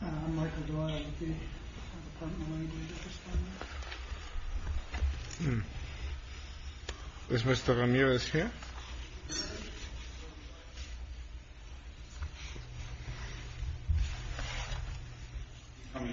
MARC INVESTIGATION OF A COVERED SITE Is Mr Rimirez here? He's already at Home Department bureau. Come here. MARC INVESTIGATION OF A COVERED SITE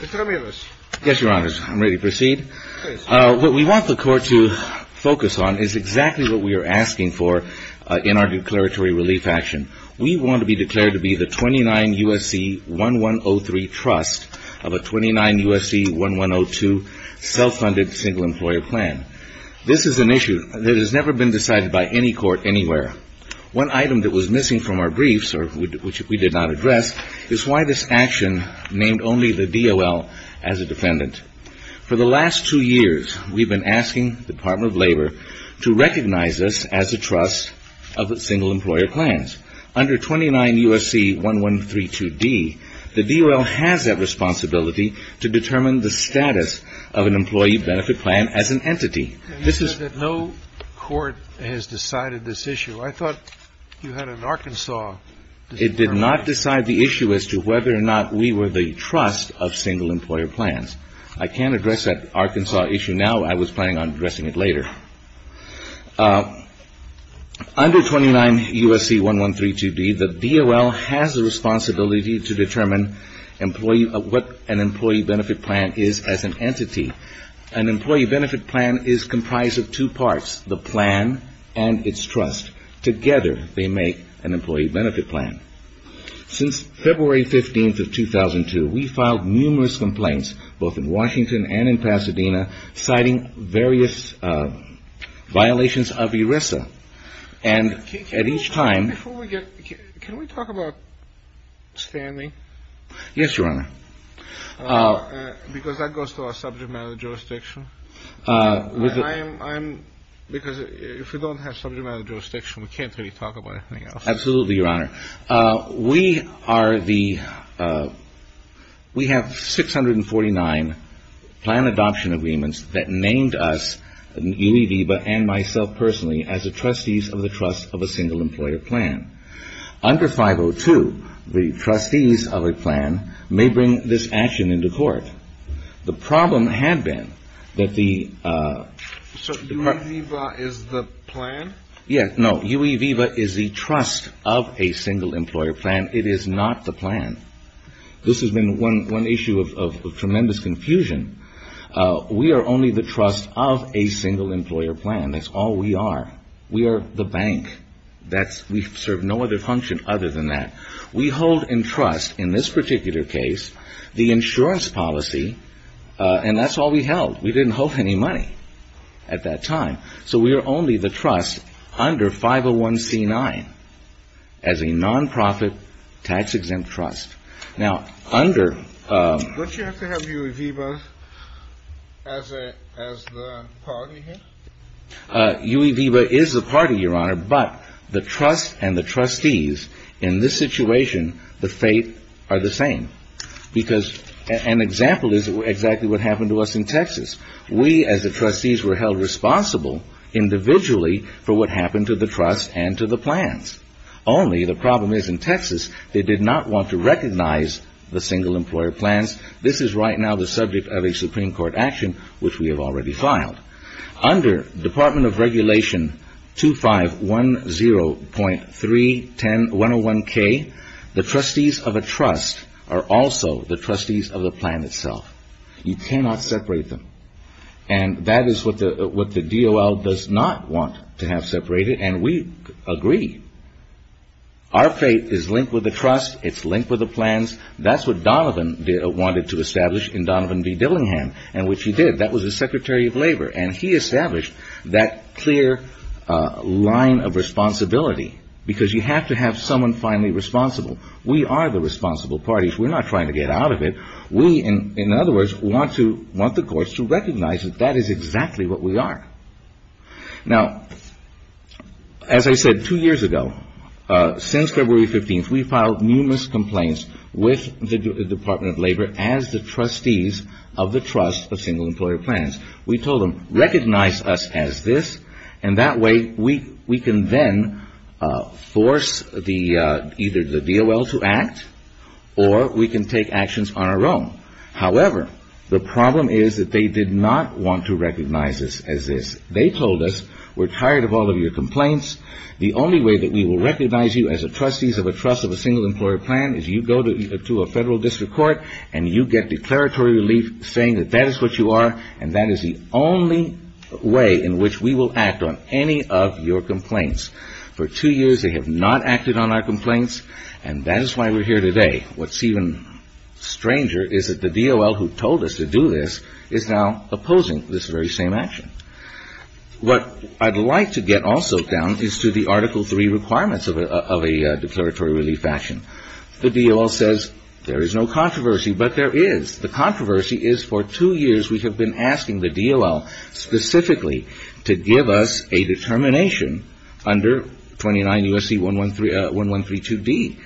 Mr. Rimirez. Yes, Your Honors. I'm ready to proceed. What we want the court to focus on is exactly what we are asking for in our declaratory relief action. We want to be declared to be the 29 U.S.C. 1103 Trust of a 29 U.S.C. 1102 Self-Funded Single Employer Plan. This is an issue that has never been decided by any court anywhere. One item that was missing from our briefs, which we did not address, is why this action named only the DOL as a defendant. For the last two years, we've been asking the Department of Labor to recognize us as a Trust of Single Employer Plans. Under 29 U.S.C. 1132D, the DOL has that responsibility to determine the status of an Employee Benefit Plan as an entity. You said that no court has decided this issue. I thought you had an Arkansas determination. It did not decide the issue as to whether or not we were the Trust of Single Employer Plans. I can't address that Arkansas issue now. I was planning on addressing it later. Under 29 U.S.C. 1132D, the DOL has the responsibility to determine what an Employee Benefit Plan is as an entity. An Employee Benefit Plan is comprised of two parts, the plan and its trust. Together, they make an Employee Benefit Plan. Since February 15th of 2002, we've filed numerous complaints, both in Washington and in Pasadena, citing various violations of ERISA. And at each time... Can we talk about Stanley? Yes, Your Honor. Because that goes to our subject matter jurisdiction. I'm... Because if we don't have subject matter jurisdiction, we can't really talk about anything else. Absolutely, Your Honor. We are the... We have 649 plan adoption agreements that named us, UE-VIVA, and myself personally, as the Trustees of the Trust of a Single Employer Plan. Under 502, the Trustees of a plan may bring this action into court. The problem had been that the... So UE-VIVA is the plan? Yeah, no. UE-VIVA is the trust of a single employer plan. It is not the plan. This has been one issue of tremendous confusion. We are only the trust of a single employer plan. That's all we are. We are the bank. We serve no other function other than that. We hold in trust, in this particular case, the insurance policy, and that's all we held. We didn't hold any money at that time. So we are only the trust under 501c9 as a non-profit tax-exempt trust. Now, under... Don't you have to have UE-VIVA as the party here? UE-VIVA is the party, Your Honor, but the trust and the trustees, in this situation, the fate are the same. Because an example is exactly what happened to us in Texas. We, as the trustees, were held responsible, individually, for what happened to the trust and to the plans. Only, the problem is, in Texas, they did not want to recognize the single employer plans. This is right now the subject of a Supreme Court action, which we have already filed. Under Department of Regulation 2510.310101K, the trustees of a trust are also the trustees of the plan itself. You cannot separate them. And that is what the DOL does not want to have separated, and we agree. Our fate is linked with the trust, it's linked with the plans. That's what Donovan wanted to establish in Donovan v. Dillingham, and which he did. That was the Secretary of Labor, and he established that clear line of responsibility. Because you have to have someone finally responsible. We are the responsible party. We're not trying to get out of it. We, in other words, want the courts to recognize that that is exactly what we are. Now, as I said two years ago, since February 15th, we've filed numerous complaints with the Department of Labor as the trustees of the trust of single employer plans. We told them, recognize us as this, and that way we can then force either the DOL to act, or we can take actions on our own. However, the problem is that they did not want to recognize us as this. They told us, we're tired of all of your complaints, the only way that we will recognize you as a trustees of a trust of a single employer plan is you go to a federal district court, and you get declaratory relief saying that that is what you are, and that is the only way in which we will act on any of your complaints. For two years, they have not acted on our complaints, and that is why we're here today. What's even stranger is that the DOL who told us to do this is now opposing this very same action. What I'd like to get also down is to the Article 3 requirements of a declaratory relief action. The DOL says there is no controversy, but there is. The controversy is for two years we have been asking the DOL specifically to give us a determination under 29 U.S.C. 1132D.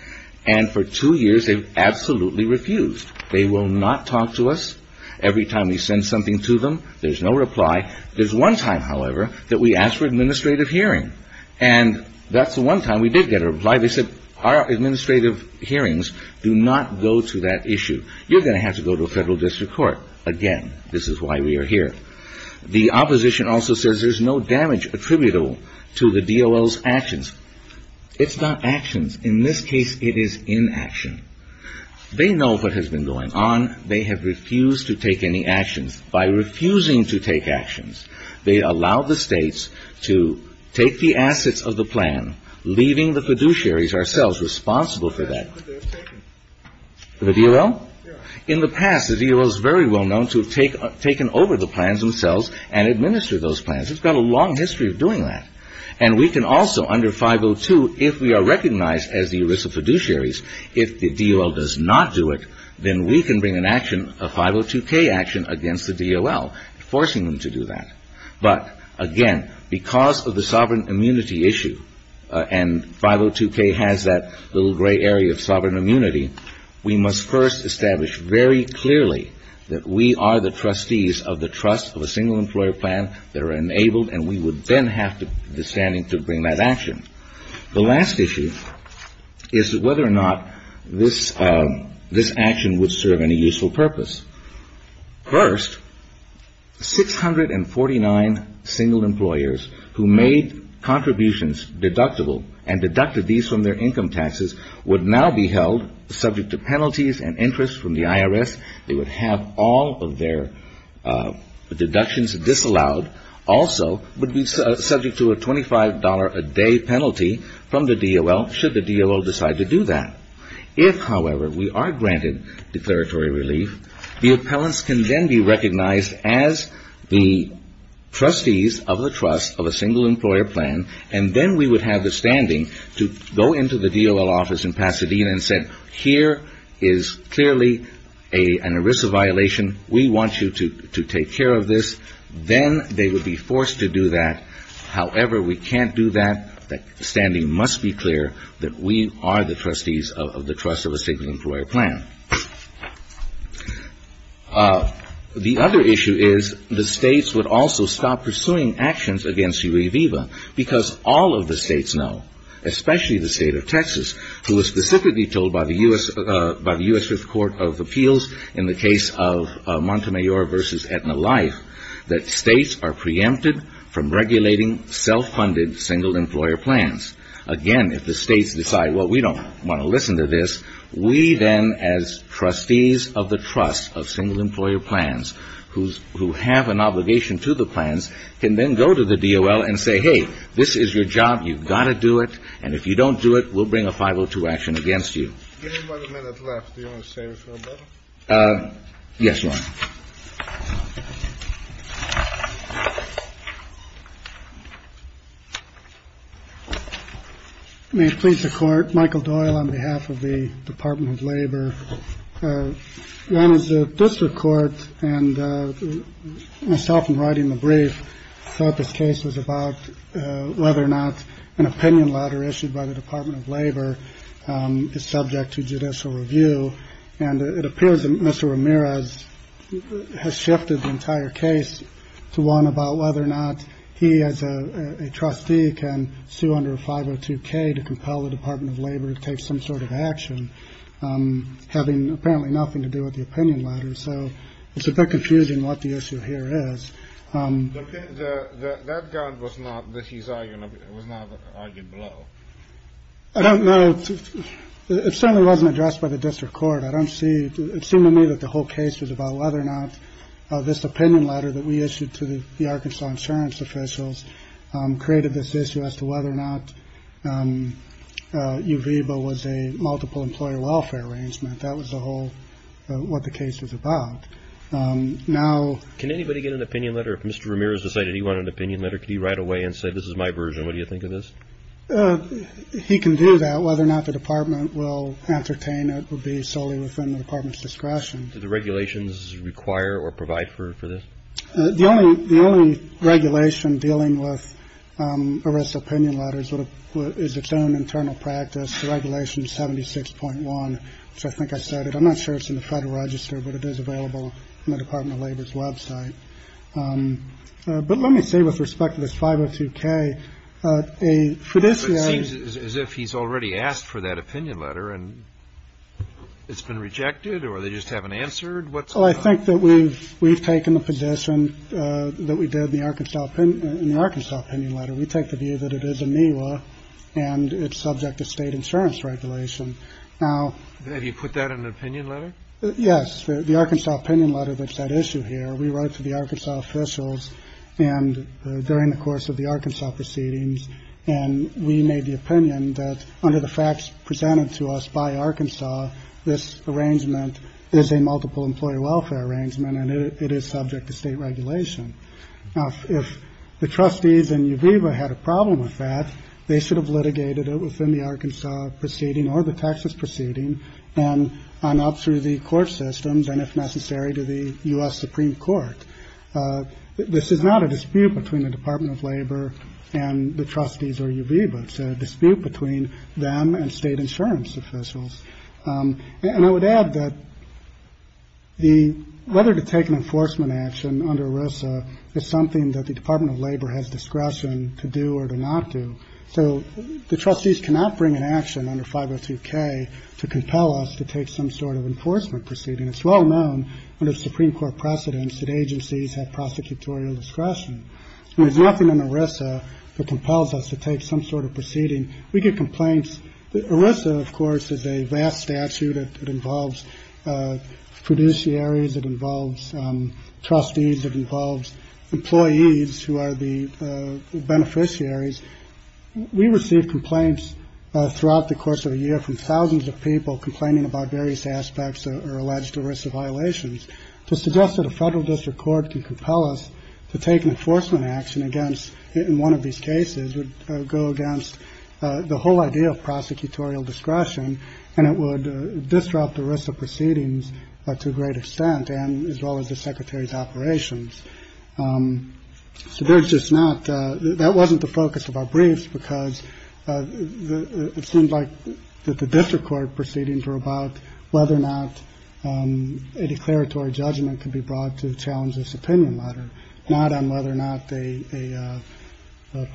And for two years, they've absolutely refused. They will not talk to us every time we send something to them. There's no reply. There's one time, however, that we asked for an administrative hearing, and that's the one time we did get a reply. They said, our administrative hearings do not go to that issue. You're going to have to go to a federal district court. Again, this is why we are here. The opposition also says there's no damage attributable to the DOL's actions. It's not actions. In this case, it is inaction. They know what has been going on. They have refused to take any actions. By refusing to take actions, they allow the states to take the assets of the plan, leaving the fiduciaries ourselves responsible for that. The DOL? In the past, the DOL is very well known to have taken over the plans themselves and administer those plans. It's got a long history of doing that. We can also, under 502, if we are recognized as the ERISA fiduciaries, if the DOL does not do it, then we can bring an action, a 502K action, against the DOL, forcing them to do that. But, again, because of the sovereign immunity issue, and 502K has that little gray area of sovereign immunity, we must first establish very clearly that we are the trustees of the trust of a single employer plan that are enabled, and we would then have the standing to bring that action. The last issue is whether or not this action would serve any useful purpose. First, 649 single employers who made contributions deductible and deducted these from their income taxes would now be held subject to penalties and interest from the IRS. They would have all of their deductions disallowed also would be subject to a $25 a day penalty from the DOL, should the DOL decide to do that. If, however, we are granted declaratory relief, the appellants can then be recognized as the trustees of the trust of a single employer plan, and then we would have the standing to go into the DOL office in Pasadena and say, here is clearly an ERISA violation. We want you to take care of this. Then they would be forced to do that. However, we can't do that. The standing must be clear that we are the trustees of the trust of a single employer plan. The other issue is the states would also stop pursuing actions against Uri Viva because all of the states know, especially the state of Texas, who was specifically told by the U.S. Fifth Court of Appeals in the case of Montemayor v. Aetna Life, that states are preempted from regulating self-funded single employer plans. Again, if the states decide, well, we don't want to listen to this, we then, as trustees of the trust of single employer plans, who have an obligation to the plans, can then go to the DOL and say, hey, this is your job. You've got to do it. And if you don't do it, we'll bring a 502 action against you. Yes, Ron. May it please the court, Michael Doyle on behalf of the Department of Labor. Ron, as a district court, and myself in writing the brief, thought this case was about whether or not an opinion letter issued by the Department of Labor is subject to judicial review. And it appears that Mr. Ramirez has shifted the entire case to one about whether or not he as a trustee can sue under 502K to compel the Department of Labor to take some sort of action, having apparently nothing to do with the opinion letter. So it's a bit confusing what the issue here is. But that was not argued below. It certainly wasn't addressed by the district court. It seemed to me that the whole case was about whether or not this opinion letter that we issued to the Arkansas insurance officials created this issue as to whether or not Uviva was a multiple employer welfare arrangement. That was the whole, what the case was about. Now... Can anybody get an opinion letter if Mr. Ramirez decided he wanted an opinion letter? Could he write away and say, this is my version, what do you think of this? He can do that. Whether or not the department will entertain it would be solely within the department's discretion. Do the regulations require or provide for this? The only regulation dealing with Arisa opinion letters is its own internal practice, the regulation 76.1, which I think I said it. I'm not sure it's in the Federal Register, but it is available on the Department of Labor's website. But let me say with respect to this 502k, for this... It seems as if he's already asked for that opinion letter and it's been rejected or they just haven't answered what's... I think that we've taken the position that we did in the Arkansas opinion letter. We take the view that it is a MIWA and it's subject to state insurance regulation. Now... Have you put that in an opinion letter? Yes. The Arkansas opinion letter that's at issue here, we wrote to the Arkansas officials and during the course of the Arkansas proceedings and we made the opinion that under the facts presented to us by Arkansas, this arrangement is a multiple employee welfare arrangement and it is subject to state regulation. Uviva had a problem with that, they should have litigated it within the Arkansas proceeding or the Texas proceeding and on up through the court systems and if necessary to the U.S. Supreme Court. This is not a dispute between the Department of Labor and the Trustees or Uviva. It's a dispute between them and state insurance officials. And I would add that whether to take an enforcement action under ERISA is something that the Department of Labor has discretion to do or to not do. So the Trustees cannot bring an action under 502k to compel us to take some sort of enforcement proceeding. It's well known under the Supreme Court precedents that agencies have prosecutorial discretion. There's nothing in ERISA that compels us to take some sort of proceeding. We get complaints. ERISA of course is a vast statute that involves fiduciaries, it involves trustees, it involves employees who are the beneficiaries. We receive complaints throughout the course of a year from thousands of people complaining about various aspects or alleged ERISA violations to suggest that a federal district court can compel us to take an enforcement action against one of these cases would go against the whole idea of prosecutorial discretion and it would disrupt ERISA proceedings to a great extent and as well as the Secretary's operations. So there's just not, that wasn't the focus of our briefs because it seemed like the district court proceedings were about whether or not a declaratory judgment could be brought to challenge this opinion matter, not on whether or not a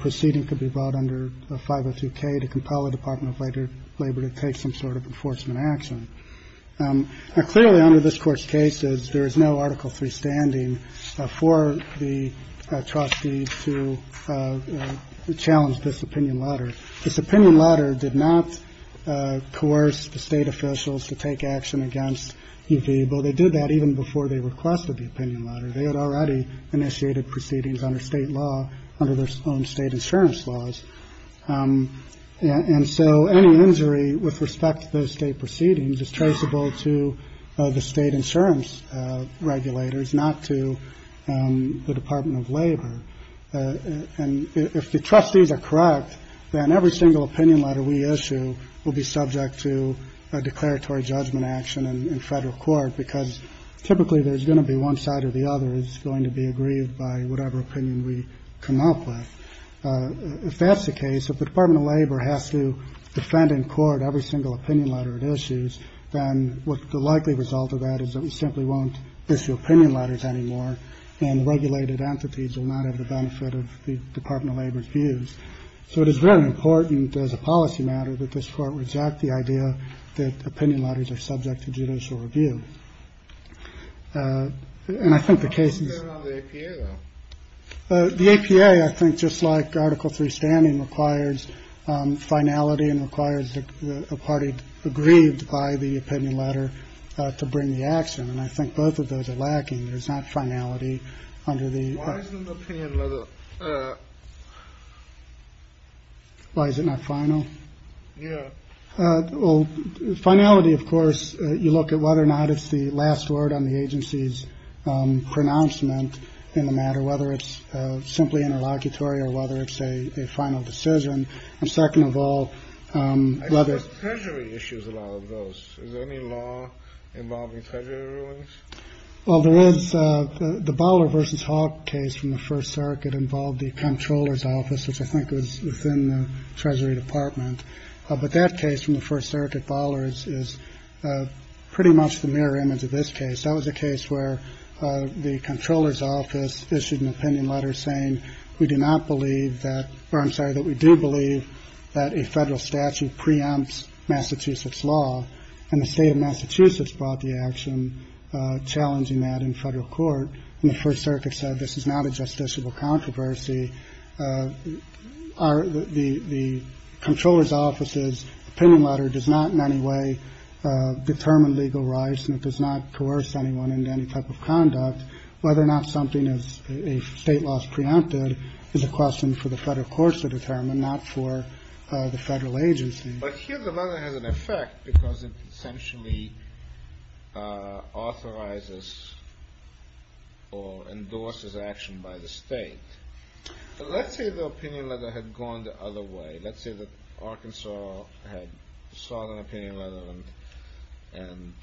proceeding could be brought under 502k to compel the Department of Labor to take some sort of enforcement action. Now clearly under this Court's cases there is no Article III standing for the trustees to challenge this opinion matter. This opinion matter did not coerce the state officials to take action against EV, but they did that even before they requested the opinion matter. They had already initiated proceedings under state law, under their own state insurance laws. And so any injury with respect to those state proceedings is traceable to the state insurance regulators not to the Department of Labor. And if the trustees are correct then every single opinion matter we issue will be subject to a declaratory judgment action in federal court because typically there's going to be one side or the other is going to be aggrieved by whatever opinion we come up with. If that's the case, if the Department of Labor has to defend in court every single opinion matter it issues then the likely result of that is that we simply won't issue opinion letters anymore and regulated entities will not have the benefit of the Department of Labor's views. So it is very important as a policy matter that this court reject the idea that opinion letters are subject to judicial review. And I think the case is... What about the APA though? The APA I think just like Article III standing requires finality and requires a party aggrieved by the action and I think both of those are lacking. There's not finality under the... Why isn't the opinion letter... Why is it not final? Yeah. Finality of course, you look at whether or not it's the last word on the agency's pronouncement in the matter, whether it's simply interlocutory or whether it's a final decision. And second of all... Treasury issues a lot of those. Is there any law involving treasury rulings? Well there is. The Baller v. Hawke case from the First Circuit involved the Comptroller's Office, which I think was within the Treasury Department. But that case from the First Circuit, Baller's, is pretty much the mirror image of this case. That was a case where the Comptroller's Office issued an opinion letter saying we do not believe that, or I'm sorry, that we do believe that a federal statute preempts law. And the state of Massachusetts brought the action challenging that in federal court. And the First Circuit said this is not a justiciable controversy. The Comptroller's Office's opinion letter does not in any way determine legal rights and it does not coerce anyone into any type of conduct. Whether or not something is a state law is preempted is a question for the federal courts to determine, not for the federal agency. But here the letter has an effect because it essentially authorizes or endorses action by the state. Let's say the opinion letter had gone the other way. Let's say that Arkansas had sought an opinion letter and and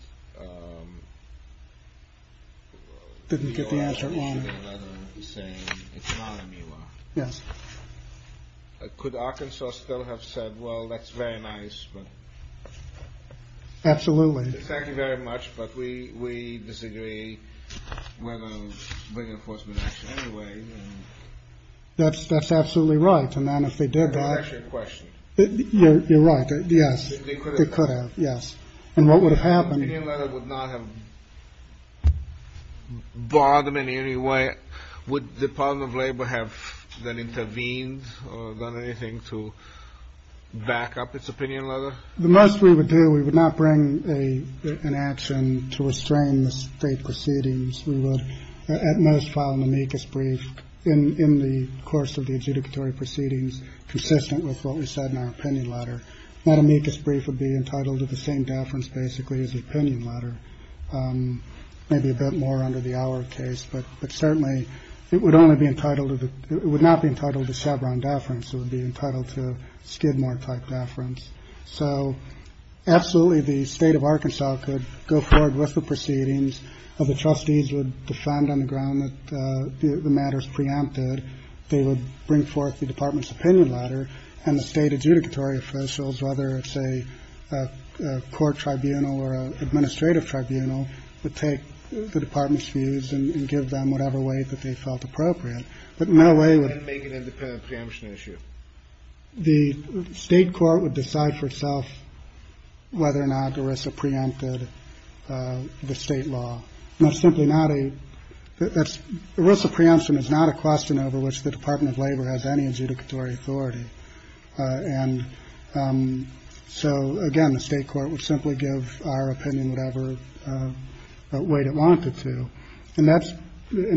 didn't get the answer it wanted. Yes. Could Arkansas still have said, well, that's very nice. Absolutely. Thank you very much, but we disagree. We're going to bring enforcement action anyway. That's absolutely right. And then if they did that. You're right. Yes. They could have. Yes. And what would have happened? The opinion letter would not have bothered them in any way. Would the Department of Labor have then intervened or done anything to back up its opinion letter? The most we would do, we would not bring an action to restrain the state proceedings. We would at most file an amicus brief in the course of the adjudicatory proceedings consistent with what we said in our opinion letter. That amicus brief would be entitled to the same deference basically as the opinion letter. Maybe a bit more under the our case, but certainly it would only be entitled to, it would not be entitled to Chevron deference. It would be entitled to Skidmore type deference. So absolutely the state of Arkansas could go forward with the proceedings of the trustees would defend on the ground that the matters preempted. They would bring forth the department's opinion letter and the state adjudicatory officials whether it's a court tribunal or administrative tribunal would take the department's views and give them whatever weight that they felt appropriate. But in no way would make an independent preemption issue. The state court would decide for itself whether or not ERISA preempted the state law. It's simply not a ERISA preemption is not a question over which the Department of Labor has any adjudicatory authority. And so again the state court would simply give our opinion whatever weight it In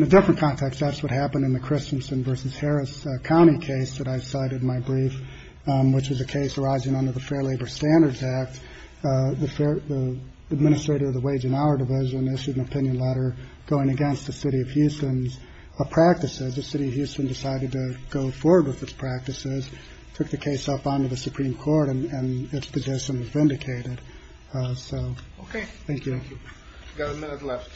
a different context that's what happened in the Christensen versus Harris County case that I cited in my brief which was a case arising under the Fair Labor Standards Act. The administrator of the Wage and Hour Division issued an opinion letter going against the city of Houston's practices. The city of Houston decided to go forward with its practices took the case up on to the Supreme Court and its position was vindicated. Thank you. We've got a minute left.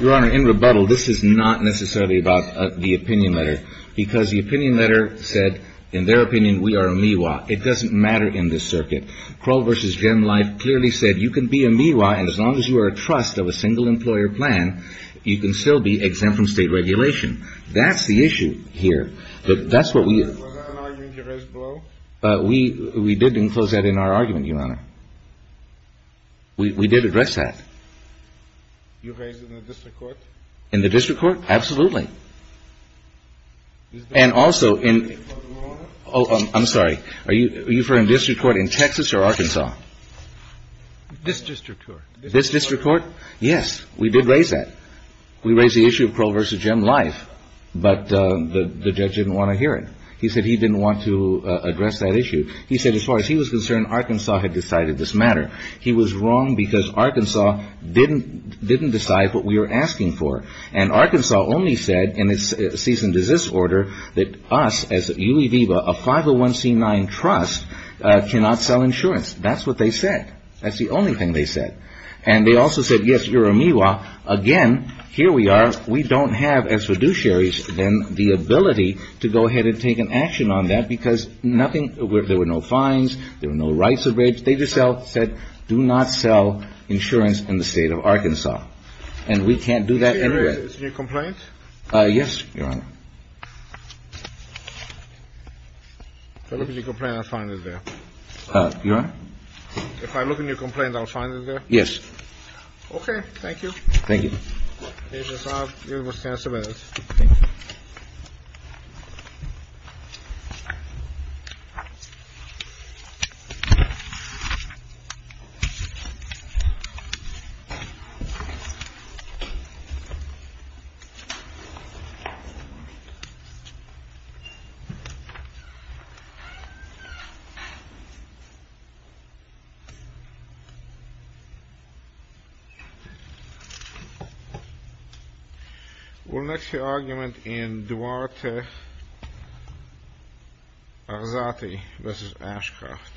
Your Honor, in rebuttal this is not necessarily about the opinion letter because the opinion letter said in their opinion we are a MIWA. It doesn't matter in this circuit. Kroll versus Gen Life clearly said you can be a MIWA and as long as you are a trust of a single employer plan you can still be exempt from state regulation. That's the issue here. That's what we We didn't enclose that in our argument, Your Honor. We did address that. You raised it in the district court? In the district court? Absolutely. And also in Oh, I'm sorry. Are you referring to the district court in Texas or Arkansas? This district court. This district court? Yes. We did raise that. We raised the issue of Kroll versus Gen Life but the judge didn't want to hear it. He said he didn't want to address that issue. He said as far as he was concerned Arkansas had decided this matter. He was wrong because Arkansas didn't decide what we were asking for. And Arkansas only said in its cease and desist order that us as Univiva, a 501c9 trust cannot sell insurance. That's what they said. That's the only thing they said. And they also said yes, you're a MIWA, again here we are, we don't have as fiduciaries then the ability to go ahead and take an action on that because there were no fines there were no rights of way. They just said do not sell insurance in the state of Arkansas. And we can't do that anywhere. Is there a complaint? Yes, Your Honor. If I look at your complaint I'll find it there. Your Honor? If I look at your complaint I'll find it there? Yes. Okay, thank you. Thank you. Mr. Saab, you have a chance to address. Okay. We'll next hear argument in Duarte Arzate v. Ashcroft